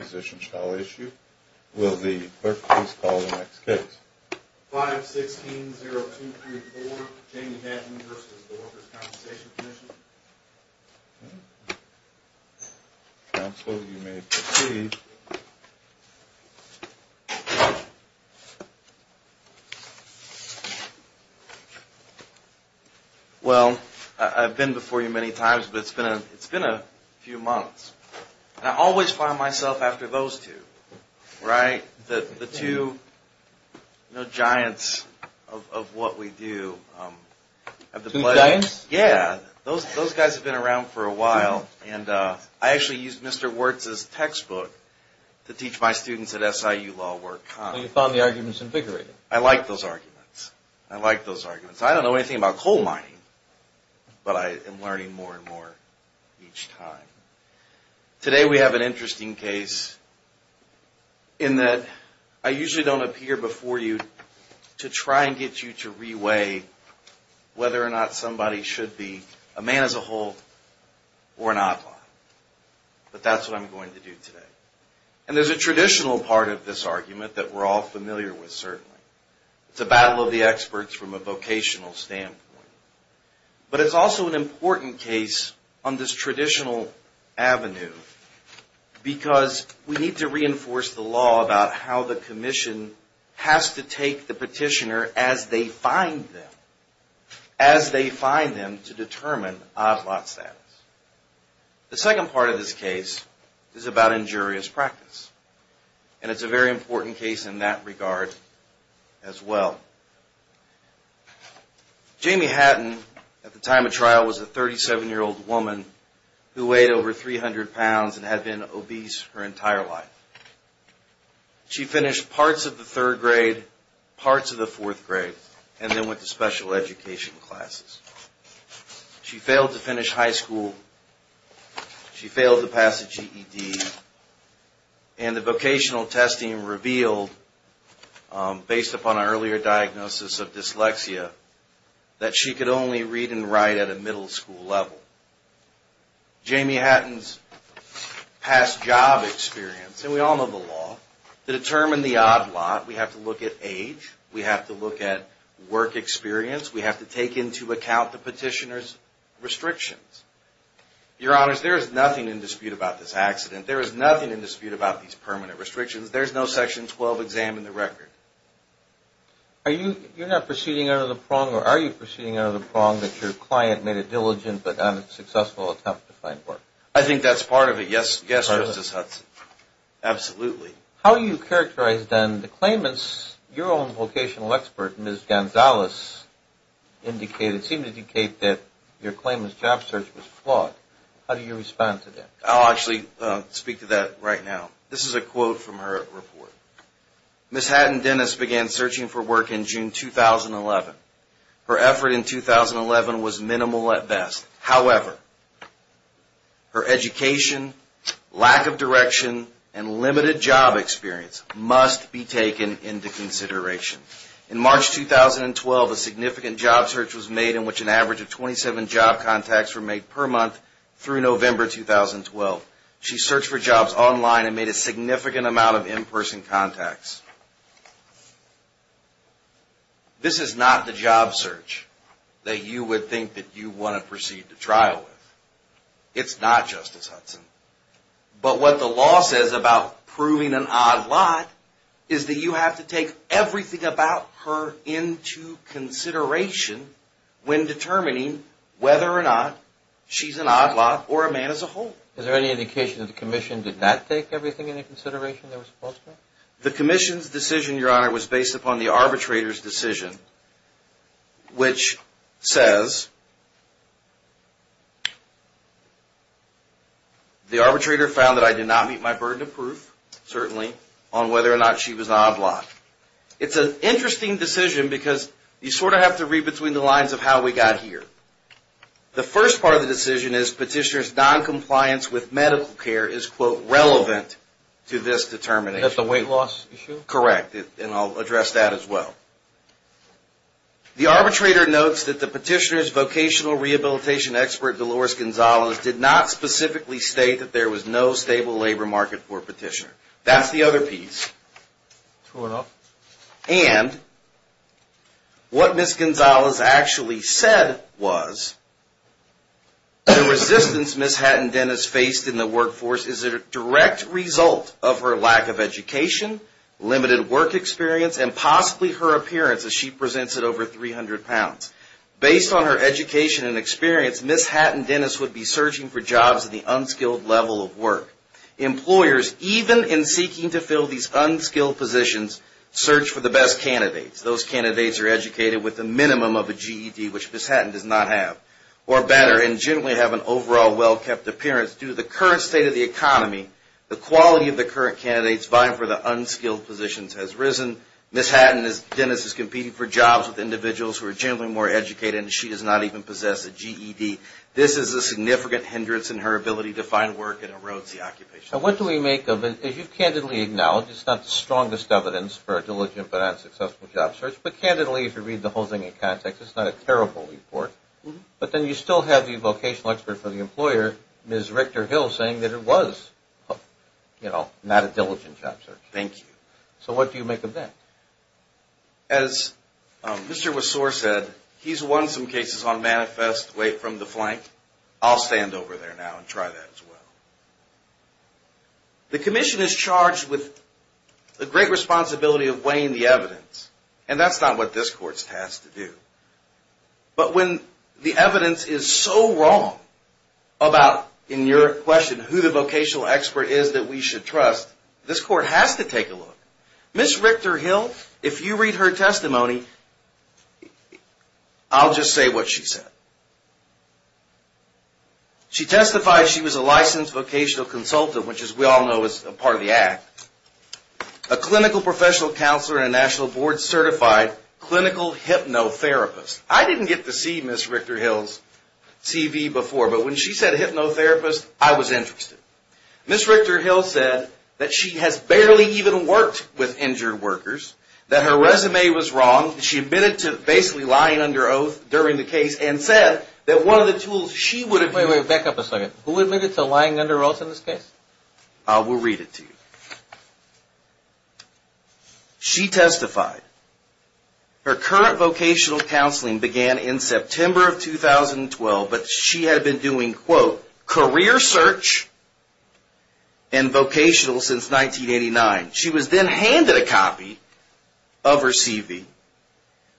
Well, I've been before you many times, but it's been a few months, and I always find myself after those two. The two giants of what we do. Those guys have been around for a while, and I actually used Mr. Wirtz's textbook to teach my students at SIU Law Work. Well, you found the arguments invigorating. I like those arguments. I don't know anything about coal mining, but I am learning more and more each time. Today we have an interesting case in that I usually don't appear before you to try and get you to re-weigh whether or not somebody should be a man as a whole or an outlaw. But that's what I'm going to do today. And there's a traditional part of this argument that we're all familiar with, certainly. It's a battle of the experts from a vocational standpoint. But it's also an important case on this traditional avenue because we need to reinforce the law about how the commission has to take the petitioner as they find them. As they find them to determine outlaw status. The second part of this case is about injurious practice. And it's a very important case in that regard as well. Jamie Hatton, at the time of trial, was a 37-year-old woman who weighed over 300 pounds and had been obese her entire life. She finished parts of the third grade, parts of the fourth grade, and then went to special education classes. She failed to finish high school. She failed to pass the GED. And the vocational testing revealed, based upon an earlier diagnosis of dyslexia, that she could only read and write at a middle school level. Jamie Hatton's past job experience, and we all know the law, to determine the odd lot, we have to look at age, we have to look at work experience, we have to take into account the petitioner's There is nothing in dispute about this accident. There is nothing in dispute about these permanent restrictions. There's no Section 12 exam in the record. Are you, you're not proceeding out of the prong, or are you proceeding out of the prong that your client made a diligent but unsuccessful attempt to find work? I think that's part of it, yes, Justice Hudson. Absolutely. How do you characterize then the claimants, your own vocational expert, Ms. Gonzalez, indicated, seemed to indicate that your claimant's job search was flawed. How do you respond to that? I'll actually speak to that right now. This is a quote from her report. Ms. Hatton Dennis began searching for work in June 2011. Her effort in 2011 was minimal at best. However, her education, lack of direction, and limited job experience must be taken into consideration. In March 2012, a significant job search was She searched for jobs online and made a significant amount of in-person contacts. This is not the job search that you would think that you want to proceed to trial with. It's not, Justice Hudson. But what the law says about proving an odd lot is that you have to take everything about her into consideration when determining whether or not she's an odd lot or a man as a whole. Is there any indication that the commission did not take everything into consideration? The commission's decision, your honor, was based upon the arbitrator's decision, which says the arbitrator found that I did not meet my burden of proof, certainly, on whether or not she was an odd lot. It's an interesting decision because you sort of have to read between the lines of how we got here. The first part of the decision is Petitioner's noncompliance with medical care is, quote, relevant to this determination. Is that the weight loss issue? Correct. And I'll address that as well. The arbitrator notes that the Petitioner's vocational rehabilitation expert, Dolores Gonzalez, did not specifically state that there was no stable labor market for Petitioner. That's the other piece. And what Ms. Gonzalez actually said was, the resistance Ms. Hatton-Dennis faced in the workforce is a direct result of her lack of education, limited work experience, and possibly her appearance as she presents at over 300 pounds. Based on her education and experience, Ms. Hatton-Dennis would be searching for jobs at the unskilled level of work. Employers, even in seeking to fill these unskilled positions, search for the best candidates. Those candidates are educated with a minimum of a GED, which Ms. Hatton does not have, or better, and generally have an overall well-kept appearance. Due to the current state of the economy, the quality of the current candidates vying for the unskilled positions has risen. Ms. Hatton-Dennis is competing for jobs with individuals who are generally more educated, and she does not even possess a GED. This is a significant hindrance in her ability to find work and erodes the occupation. And what do we make of it? As you've candidly acknowledged, it's not the strongest evidence for a diligent but unsuccessful job search, but candidly, if you read the whole thing in context, it's not a terrible report. But then you still have the vocational expert for the employer, Ms. Richter-Hill, saying that it was, you know, not a diligent job search. Thank you. So what do you make of that? As Mr. Wessor said, he's won some cases on manifest, away from the flank. I'll stand over there now and try that as well. The commission is charged with the great responsibility of weighing the evidence, and that's not what this court's tasked to do. But when the evidence is so wrong about, in your question, who the vocational expert is that we should trust, this court has to take a look. Ms. Richter-Hill, if you read her testimony, I'll just say what she said. She testified she was a licensed vocational consultant, which as we all know is a part of the act, a clinical professional counselor and a national board certified clinical hypnotherapist. I didn't get to see Ms. Richter-Hill's CV before, but when she said hypnotherapist, I was interested. Ms. Richter-Hill said that she has barely even worked with injured workers, that her resume was wrong, she admitted to basically lying under oath during the case, and said that one of the tools she would have used... Wait, wait, back up a second. Who admitted to lying under oath in this case? I will read it to you. She testified her current vocational counseling began in September of 2012, but she had been doing, quote, career search and vocational since 1989. She was then handed a copy of her CV.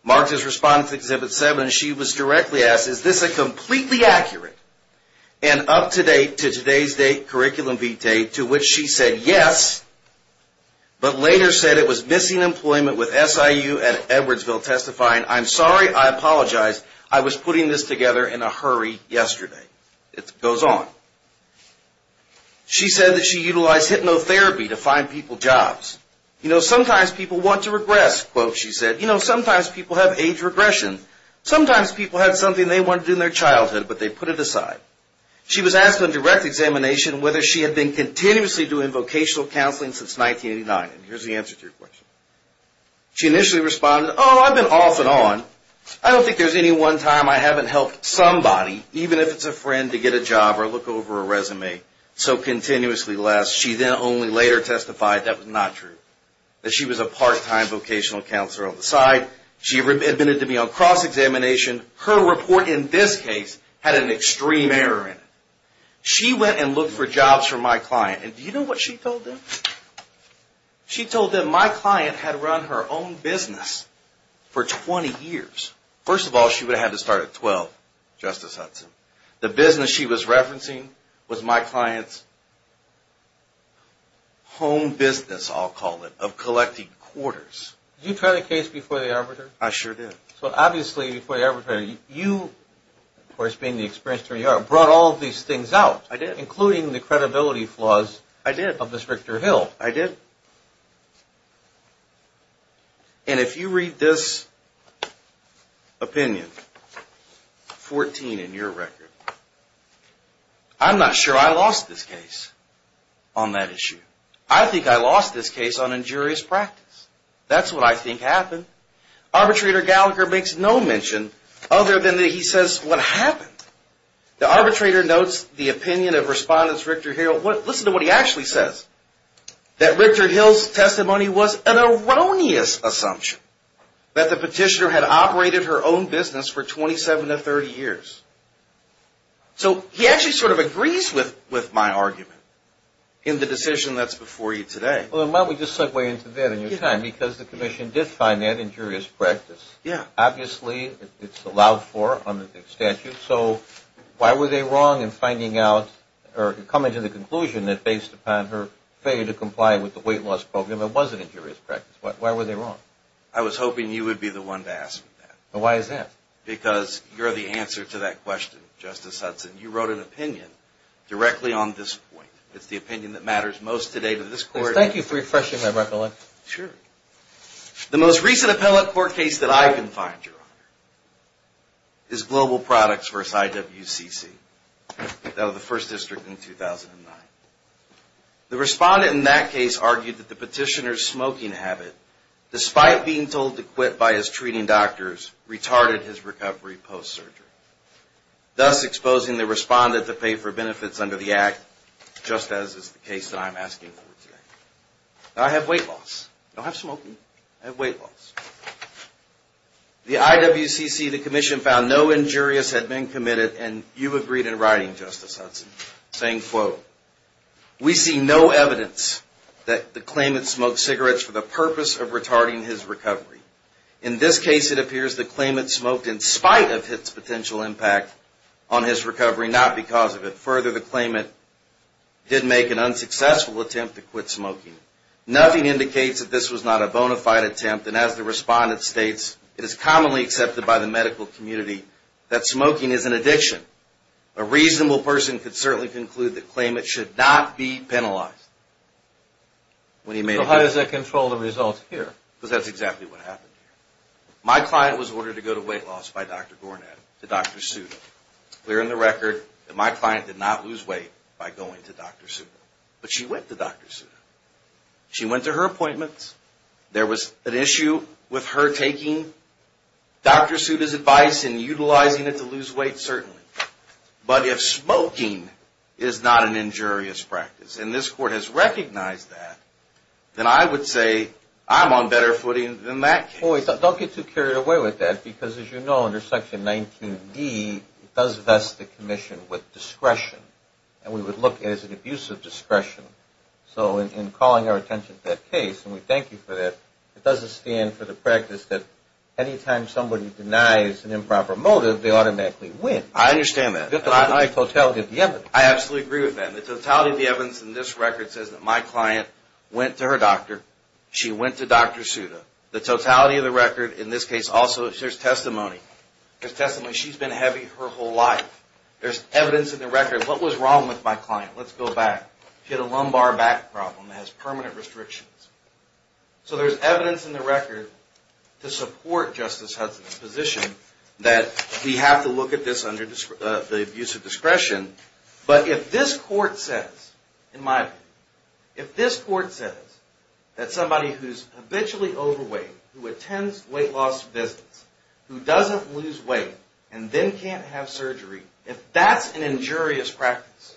Marked as responding to Exhibit 7, she was directly asked, is this a completely accurate and up-to-date to today's date curriculum vitae, to which she said yes, but later said it was missing employment with SIU at Edwardsville, testifying, I'm sorry, I apologize, I was putting this together in a hurry yesterday. It goes on. She said that she utilized hypnotherapy to find people jobs. You know, sometimes people want to regress, quote, she said. You know, sometimes people have age regression. Sometimes people have something they wanted to do in their childhood, but they put it aside. She was asked on direct examination whether she had been continuously doing vocational counseling since 1989. Here's the answer to your question. She initially responded, oh, I've been off and on. I don't think there's any one time I haven't helped somebody, even if it's a friend, to get a job. She then only later testified that was not true, that she was a part-time vocational counselor on the side. She admitted to be on cross-examination. Her report in this case had an extreme error in it. She went and looked for jobs for my client, and do you know what she told them? She told them my client had run her own business for 20 years. First of all, she would have had to start at 12, Justice Hudson. The business she was referencing was my client's home business, I'll call it, of collecting quarters. Did you try the case before the arbiter? I sure did. So obviously before the arbiter, you, of course, being the experienced jury you are, brought all of these things out, including the credibility flaws of Ms. Richter-Hill. I did. And if you read this opinion, 14 in your record, I'm not sure I'm going to be wrong. I think I lost this case on that issue. I think I lost this case on injurious practice. That's what I think happened. Arbitrator Gallagher makes no mention other than he says what happened. The arbitrator notes the opinion of Respondent Richter-Hill. Listen to what he actually says. That Richter-Hill's testimony was an erroneous assumption, that the petitioner had operated her own business for 27 to 30 years. So he actually sort of agrees with my argument in the decision that's before you today. Well, why don't we just segue into that in your time, because the commission did find that injurious practice. Yeah. Obviously, it's allowed for under the statute, so why were they wrong in finding out, or coming to the conclusion that based upon her failure to comply with the weight loss program, it wasn't injurious practice? Why were they wrong? I was hoping you would be the one to ask that. Why is that? Because you're the answer to that question, Justice Hudson. You wrote an opinion directly on this point. It's the opinion that matters most today to this court. Thank you for refreshing my recollection. Sure. The most recent appellate court case that I can find, Your Honor, is Global Products v. IWCC. That was the first district in 2009. The respondent in that case argued that the petitioner's smoking habit, despite being told to quit by his treating doctors, retarded his recovery post-surgery, thus exposing the respondent to pay for benefits under the Act, just as is the case that I'm asking for today. Now, I have weight loss. I don't have smoking. I have weight loss. The IWCC, the Commission, found no injurious had been committed, and you agreed in writing, Justice Hudson, saying, quote, we see no evidence that the claimant smoked cigarettes for the purpose of retarding his recovery. In this case, it appears the claimant smoked in spite of his potential impact on his recovery, not because of it. Further, the claimant did make an unsuccessful attempt to quit smoking. Nothing indicates that this was not a bona fide attempt, and as the respondent states, it is commonly accepted by the medical community that smoking is an addiction. A reasonable person could certainly conclude the claimant should not be penalized. So how does that control the results here? Because that's exactly what happened here. My client was ordered to go to weight loss by Dr. Gornad, to Dr. Sudo. It's clear in the record that my client did not lose weight by going to Dr. Sudo. But she went to Dr. Sudo. She went to her appointments. There was an issue with her taking Dr. Sudo's advice and utilizing it to lose weight, certainly. But if smoking is not an injurious practice, and this Court has recognized that, then I would say I'm on better footing than that case. Don't get too carried away with that, because as you know, under Section 19D, it does vest the commission with discretion. And we would look at it as an abuse of discretion. So in calling our attention to that case, and we thank you for that, it doesn't stand for the practice that any time somebody denies an improper motive, they automatically win. I understand that. I absolutely agree with that. The totality of the evidence in this record says that my client went to her doctor. She went to Dr. Sudo. The totality of the record, in this case also, there's testimony. There's testimony. She's been heavy her whole life. There's evidence in the record. What was wrong with my client? Let's go back. She had a lumbar back problem that has permanent restrictions. So there's evidence in the record to support Justice Hudson's position that we have to look at this under the abuse of discretion. But if this court says, in my opinion, if this court says that somebody who's habitually overweight, who attends weight loss visits, who doesn't lose weight, and then can't have surgery, if that's an injurious practice,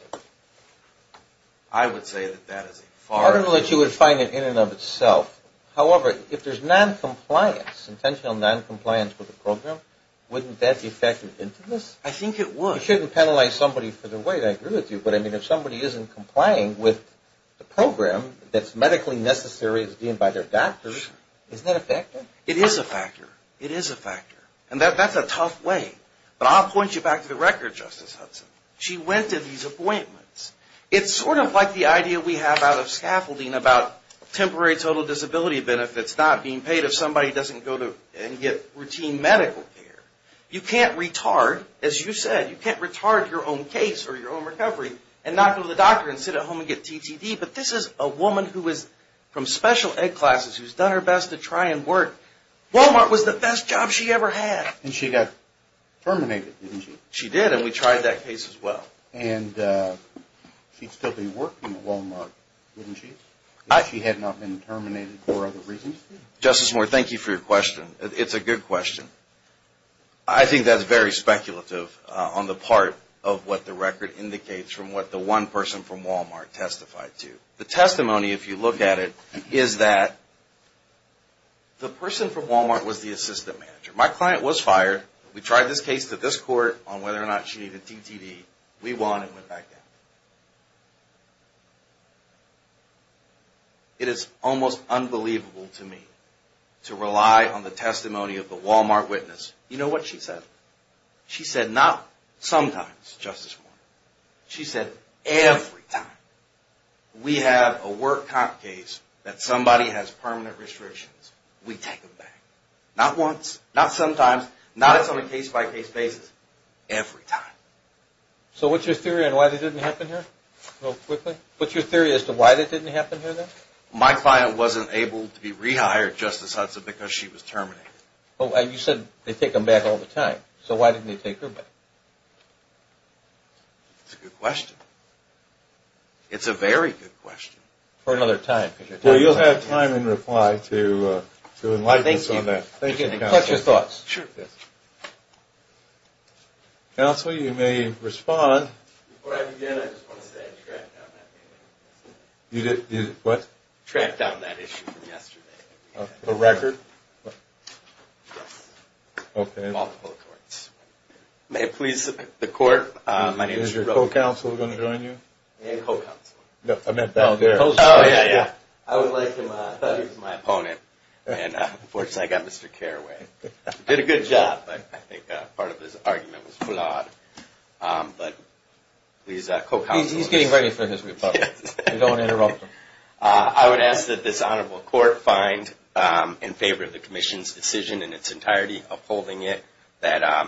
I would say that that is a farce. I don't know that you would find it in and of itself. However, if there's noncompliance, intentional noncompliance with the program, wouldn't that be effective intimacy? I think it would. You shouldn't penalize somebody for their weight. I agree with you. But if somebody isn't complying with the program that's medically necessary as deemed by their doctors, isn't that effective? It is a factor. It is a factor. And that's a tough way. But I'll point you back to the record, Justice Hudson. She went to these appointments. It's sort of like the idea we have out of scaffolding about temporary total disability benefits not being paid if somebody doesn't go and get routine medical care. You can't retard, as you said, you can't retard your own case or your own recovery and not go to the doctor and sit at home and get TTD. But this is a woman who is from special ed classes who's done her best to try and work. Walmart was the best job she ever had. And she got terminated, didn't she? She did, and we tried that case as well. And she'd still be working at Walmart, wouldn't she, if she had not been terminated for other reasons? Justice Moore, thank you for your question. It's a good question. I think that's very speculative on the part of what the record indicates from what the one person from Walmart testified to. The testimony, if you look at it, is that the person from Walmart was the assistant manager. My client was fired. We tried this case to this court on whether or not she needed TTD. We won and went back down. It is almost unbelievable to me to rely on the testimony of the Walmart witness. You know what she said? She said not sometimes, Justice Moore. She said every time. We have a work comp case that somebody has permanent restrictions, we take them back. Not once, not sometimes, not on a case-by-case basis, every time. So what's your theory on why that didn't happen here, real quickly? What's your theory as to why that didn't happen here, then? My client wasn't able to be rehired, Justice Hudson, because she was terminated. Oh, and you said they take them back all the time. So why didn't they take her back? It's a good question. It's a very good question. For another time. Well, you'll have time in reply to enlighten us on that. Thank you. Thank you. Counsel, you may respond. Before I begin, I just want to say I tracked down that case. You did what? Tracked down that issue from yesterday. The record? Yes. Okay. Multiple courts. May it please the Court, my name is Roe. Is your co-counsel going to join you? My co-counsel. No, I meant down there. Oh, yeah, yeah. I would like him. I thought he was my opponent. And, unfortunately, I got Mr. Carraway. Did a good job, but I think part of his argument was flawed. But he's a co-counsel. He's getting ready for his rebuttal. We don't want to interrupt him. I would ask that this Honorable Court find in favor of the Commission's decision in its entirety of holding it that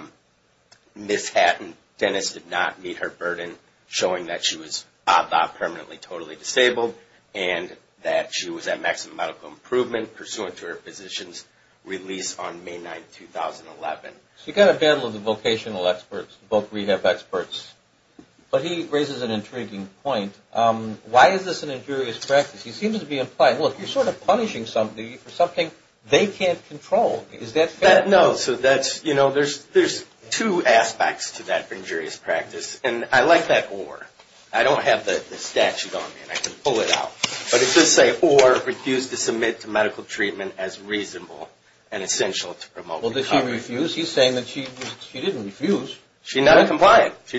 Ms. Hatton Dennis did not meet her burden, showing that she was about permanently totally disabled, and that she was at maximum medical improvement, pursuant to her physician's release on May 9, 2011. So you've got a battle of the vocational experts, both rehab experts. But he raises an intriguing point. Why is this an injurious practice? He seems to be implying, well, if you're sort of punishing somebody for something they can't control, is that fair? No. So that's, you know, there's two aspects to that injurious practice. And I like that or. I don't have the statute on me, and I can pull it out. But it does say, or refuse to submit to medical treatment as reasonable and essential to promote recovery. Well, did she refuse? He's saying that she didn't refuse. She's not compliant. She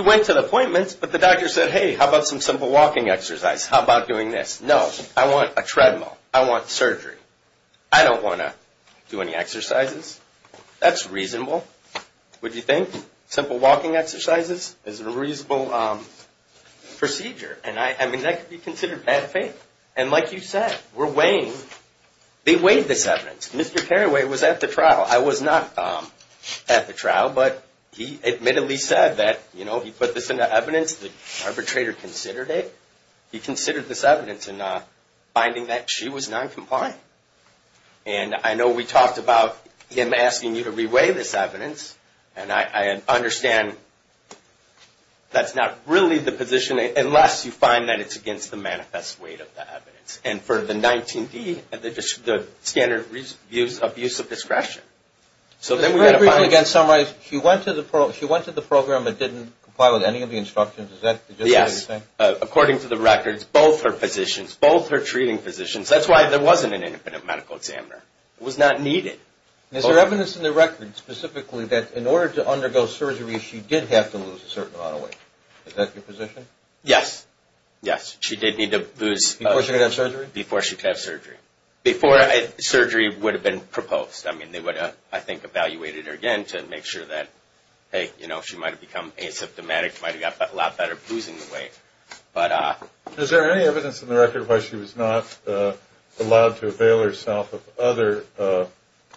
went to the appointments, but the doctor said, hey, how about some simple walking exercise? How about doing this? No. I want a treadmill. I want surgery. I don't want to do any exercises. That's reasonable, would you think? Simple walking exercises is a reasonable procedure. And I mean, that could be considered bad faith. And like you said, we're weighing, they weighed this evidence. Mr. Carraway was at the trial. I was not at the trial, but he admittedly said that, you know, he put this into evidence. The arbitrator considered it. He considered this evidence in finding that she was noncompliant. And I know we talked about him asking you to re-weigh this evidence, and I understand that's not really the position, unless you find that it's against the manifest weight of the evidence. And for the 19D, the standard abuse of discretion. Very briefly, again, summarize. She went to the program but didn't comply with any of the instructions. Is that the gist of what you're saying? Yes. According to the records, both are physicians. Both are treating physicians. That's why there wasn't an independent medical examiner. It was not needed. Is there evidence in the record, specifically, that in order to undergo surgery she did have to lose a certain amount of weight? Is that your position? Yes. Yes. She did need to lose. Before she could have surgery? Before she could have surgery. Before surgery would have been proposed. I mean, they would have, I think, evaluated her again to make sure that, hey, you know, she might have become asymptomatic. She might have got a lot better at losing the weight. Is there any evidence in the record why she was not allowed to avail herself of other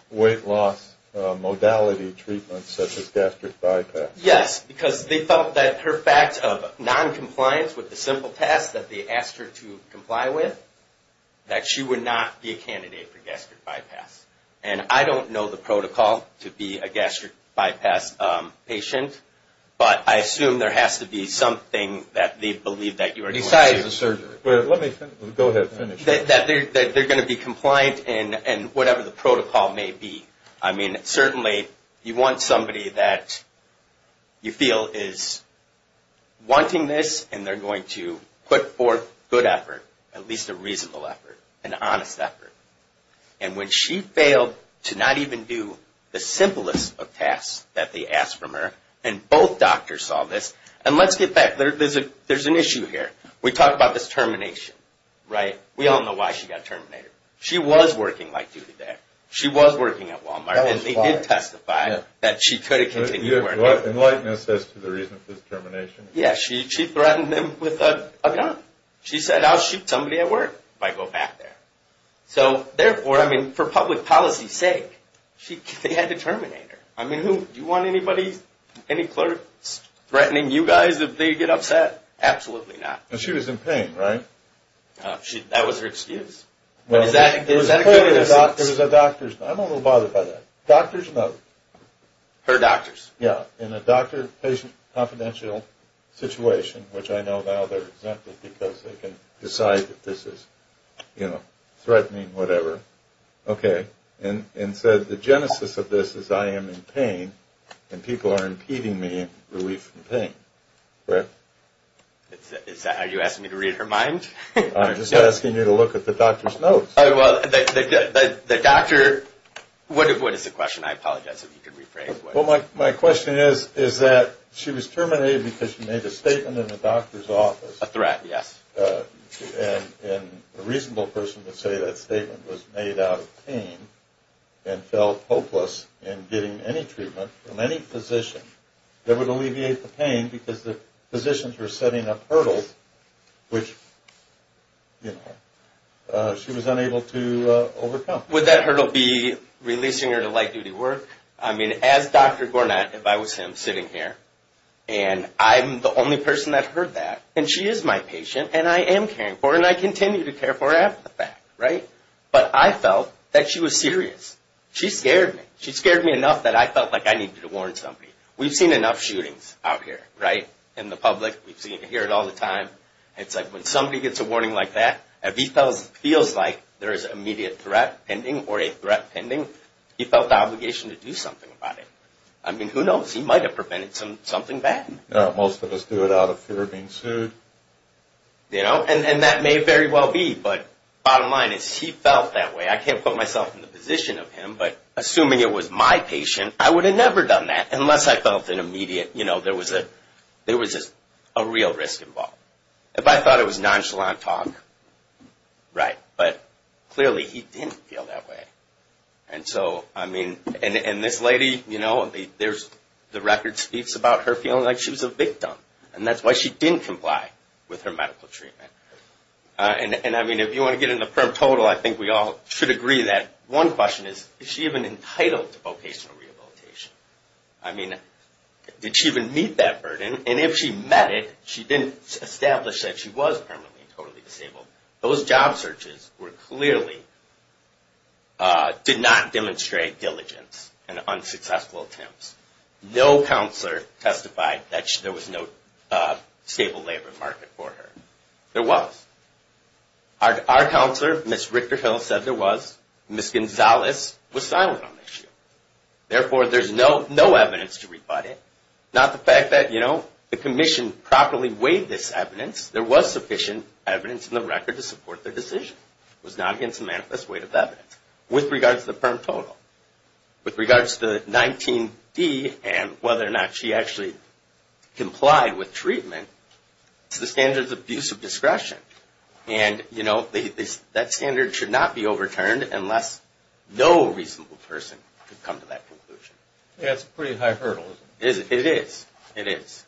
weight loss modality treatments such as gastric bypass? Yes, because they felt that her fact of noncompliance with the simple test that they asked her to comply with, that she would not be a candidate for gastric bypass. And I don't know the protocol to be a gastric bypass patient, but I assume there has to be something that they believe that you are going to do. Besides the surgery. Well, let me finish. Go ahead. Let me finish. That they're going to be compliant in whatever the protocol may be. I mean, certainly you want somebody that you feel is wanting this, and they're going to put forth good effort, at least a reasonable effort, an honest effort. And when she failed to not even do the simplest of tasks that they asked from her, and both doctors saw this. And let's get back. There's an issue here. We talked about this termination, right? We all know why she got terminated. She was working light duty there. She was working at Walmart. And they did testify that she could have continued working. In lightness as to the reason for this termination. Yes, she threatened them with a gun. She said, I'll shoot somebody at work if I go back there. So, therefore, I mean, for public policy's sake, they had to terminate her. I mean, do you want any clerks threatening you guys if they get upset? Absolutely not. And she was in pain, right? That was her excuse. Is that a good excuse? I'm a little bothered by that. Doctors know. Her doctors. Yeah. In a doctor-patient confidential situation, which I know now they're exempted because they can decide that this is, you know, threatening, whatever. Okay. And said the genesis of this is I am in pain, and people are impeding me relief from pain, correct? Are you asking me to read her mind? I'm just asking you to look at the doctor's notes. Well, the doctor, what is the question? I apologize if you could rephrase. Well, my question is, is that she was terminated because she made a statement in the doctor's office. A threat, yes. And a reasonable person would say that statement was made out of pain and felt hopeless in getting any treatment from any physician that would alleviate the pain because the physicians were setting up hurdles, which, you know, she was unable to overcome. Would that hurdle be releasing her to light-duty work? I mean, as Dr. Gornat, if I was him sitting here, and I'm the only person that heard that, and she is my patient, and I am caring for her, and I continue to care for her after the fact, right? But I felt that she was serious. She scared me. She scared me enough that I felt like I needed to warn somebody. We've seen enough shootings out here, right, in the public. We hear it all the time. It's like when somebody gets a warning like that, if he feels like there is an immediate threat pending or a threat pending, he felt the obligation to do something about it. I mean, who knows? He might have prevented something bad. Most of us do it out of fear of being sued. You know, and that may very well be, but bottom line is he felt that way. I can't put myself in the position of him, but assuming it was my patient, I would have never done that unless I felt an immediate, you know, there was a real risk involved. If I thought it was nonchalant talk, right, but clearly he didn't feel that way. And so, I mean, and this lady, you know, the record speaks about her feeling like she was a victim, and that's why she didn't comply with her medical treatment. And, I mean, if you want to get into prim total, I think we all should agree that one question is, is she even entitled to vocational rehabilitation? I mean, did she even meet that burden? And if she met it, she didn't establish that she was permanently and totally disabled. Those job searches were clearly, did not demonstrate diligence and unsuccessful attempts. No counselor testified that there was no stable labor market for her. There was. Our counselor, Ms. Richter-Hill, said there was. Ms. Gonzalez was silent on the issue. Therefore, there's no evidence to rebut it. Not the fact that, you know, the commission properly weighed this evidence. There was sufficient evidence in the record to support their decision. It was not against the manifest weight of evidence. With regards to the prim total, with regards to 19D, and whether or not she actually complied with treatment, it's the standards of abuse of discretion. And, you know, that standard should not be overturned unless no reasonable person could come to that conclusion. Yeah, it's a pretty high hurdle, isn't it? It is. It is.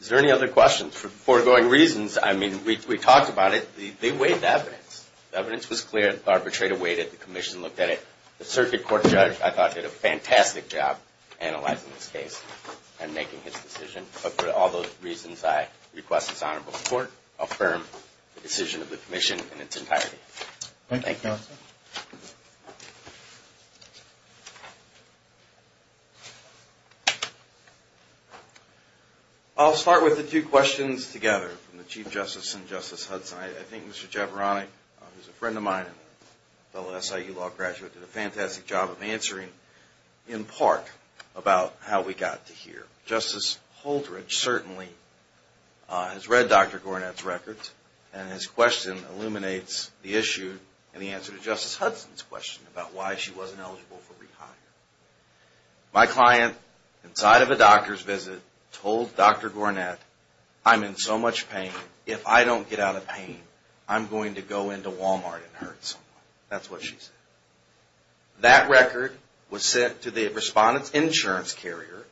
Is there any other questions? For foregoing reasons, I mean, we talked about it. They weighed the evidence. The evidence was clear, arbitrated, weighted. The commission looked at it. The circuit court judge, I thought, did a fantastic job analyzing this case and making his decision. But for all those reasons, I request this honorable court affirm the decision of the commission in its entirety. Thank you. Any other questions? I'll start with the two questions together from the Chief Justice and Justice Hudson. I think Mr. Javarani, who's a friend of mine and a fellow SIU law graduate, did a fantastic job of answering in part about how we got to here. Justice Holdridge certainly has read Dr. Gornat's records, and his question illuminates the issue in the answer to Justice Hudson's question about why she wasn't eligible for rehire. My client, inside of a doctor's visit, told Dr. Gornat, I'm in so much pain, if I don't get out of pain, I'm going to go into Walmart and hurt someone. That's what she said. That record was sent to the respondent's insurance carrier,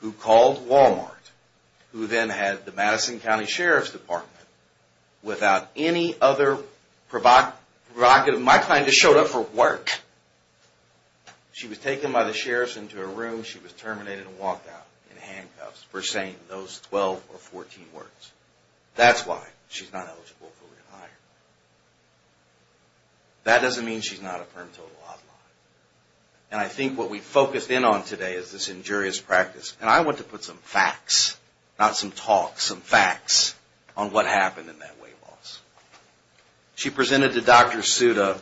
who called Walmart, who then had the Madison County Sheriff's Department, without any other provocative... My client just showed up for work. She was taken by the sheriff's into a room. She was terminated and walked out in handcuffs for saying those 12 or 14 words. That's why she's not eligible for rehire. That doesn't mean she's not a firm total outlaw. And I think what we've focused in on today is this injurious practice. And I want to put some facts, not some talk, some facts on what happened in that weight loss. She presented to Dr. Suda,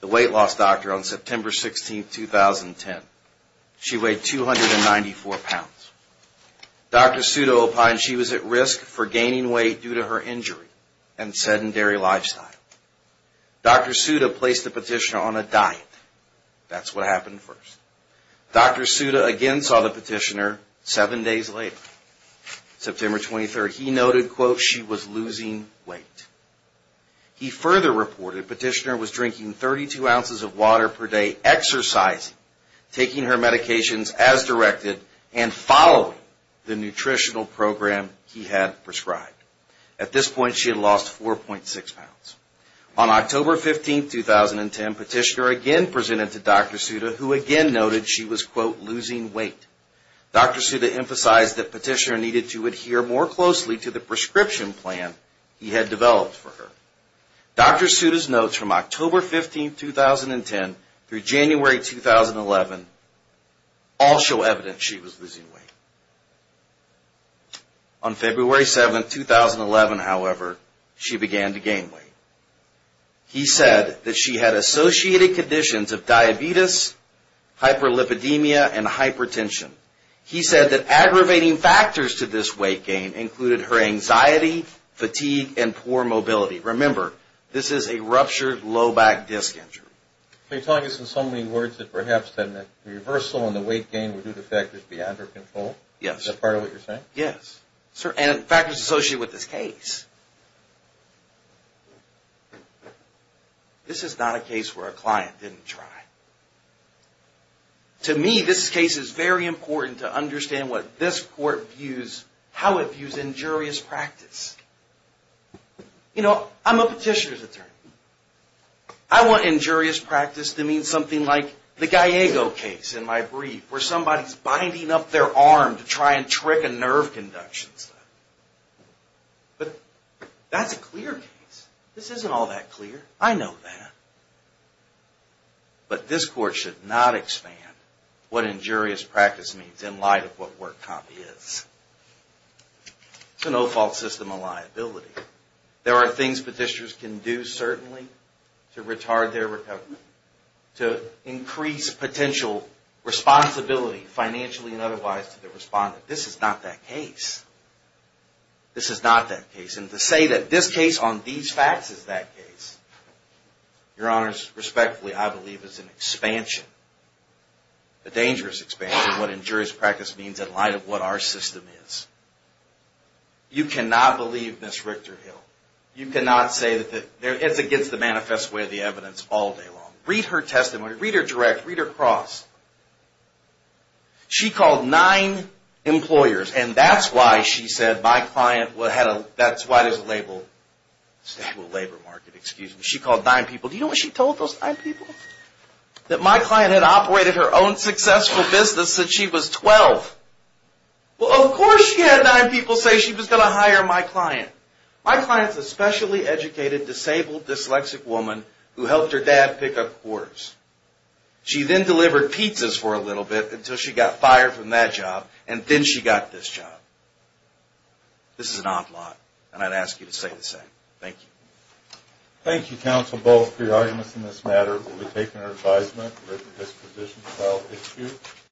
the weight loss doctor, on September 16, 2010. She weighed 294 pounds. Dr. Suda opined she was at risk for gaining weight due to her injury and sedentary lifestyle. Dr. Suda placed the petitioner on a diet. That's what happened first. Dr. Suda again saw the petitioner seven days later, September 23. He noted, quote, she was losing weight. He further reported petitioner was drinking 32 ounces of water per day, exercising, taking her medications as directed, and following the nutritional program he had prescribed. At this point, she had lost 4.6 pounds. On October 15, 2010, petitioner again presented to Dr. Suda, who again noted she was, quote, losing weight. Dr. Suda emphasized that petitioner needed to adhere more closely to the prescription plan he had developed for her. Dr. Suda's notes from October 15, 2010 through January 2011 all show evidence she was losing weight. On February 7, 2011, however, she began to gain weight. He said that she had associated conditions of diabetes, hyperlipidemia, and hypertension. He said that aggravating factors to this weight gain included her anxiety, fatigue, and poor mobility. Remember, this is a ruptured low back disc injury. So you're telling us in so many words that perhaps the reversal and the weight gain were due to factors beyond her control? Yes. Is that part of what you're saying? Yes, and factors associated with this case. This is not a case where a client didn't try. To me, this case is very important to understand what this court views, how it views injurious practice. You know, I'm a petitioner's attorney. I want injurious practice to mean something like the Gallego case in my brief, where somebody's binding up their arm to try and trick a nerve conduction. But that's a clear case. This isn't all that clear. I know that. But this court should not expand what injurious practice means in light of what Work Comp is. It's a no-fault system of liability. There are things petitioners can do, certainly, to retard their recovery, to increase potential responsibility, financially and otherwise, to the respondent. This is not that case. This is not that case. And to say that this case on these facts is that case, Your Honors, respectfully, I believe is an expansion, a dangerous expansion of what injurious practice means in light of what our system is. You cannot believe Ms. Richter-Hill. You cannot say that it's against the manifest way of the evidence all day long. Read her testimony. Read her direct. Read her cross. She called nine employers, and that's why she said my client had a stable labor market. She called nine people. Do you know what she told those nine people? That my client had operated her own successful business since she was 12. Well, of course she had nine people say she was going to hire my client. My client is a specially educated, disabled, dyslexic woman who helped her dad pick up whores. She then delivered pizzas for a little bit until she got fired from that job, and then she got this job. This is an odd lot, and I'd ask you to say the same. Thank you. Thank you, counsel, both for your arguments in this matter. We'll be taking your advisement. This position is about issues.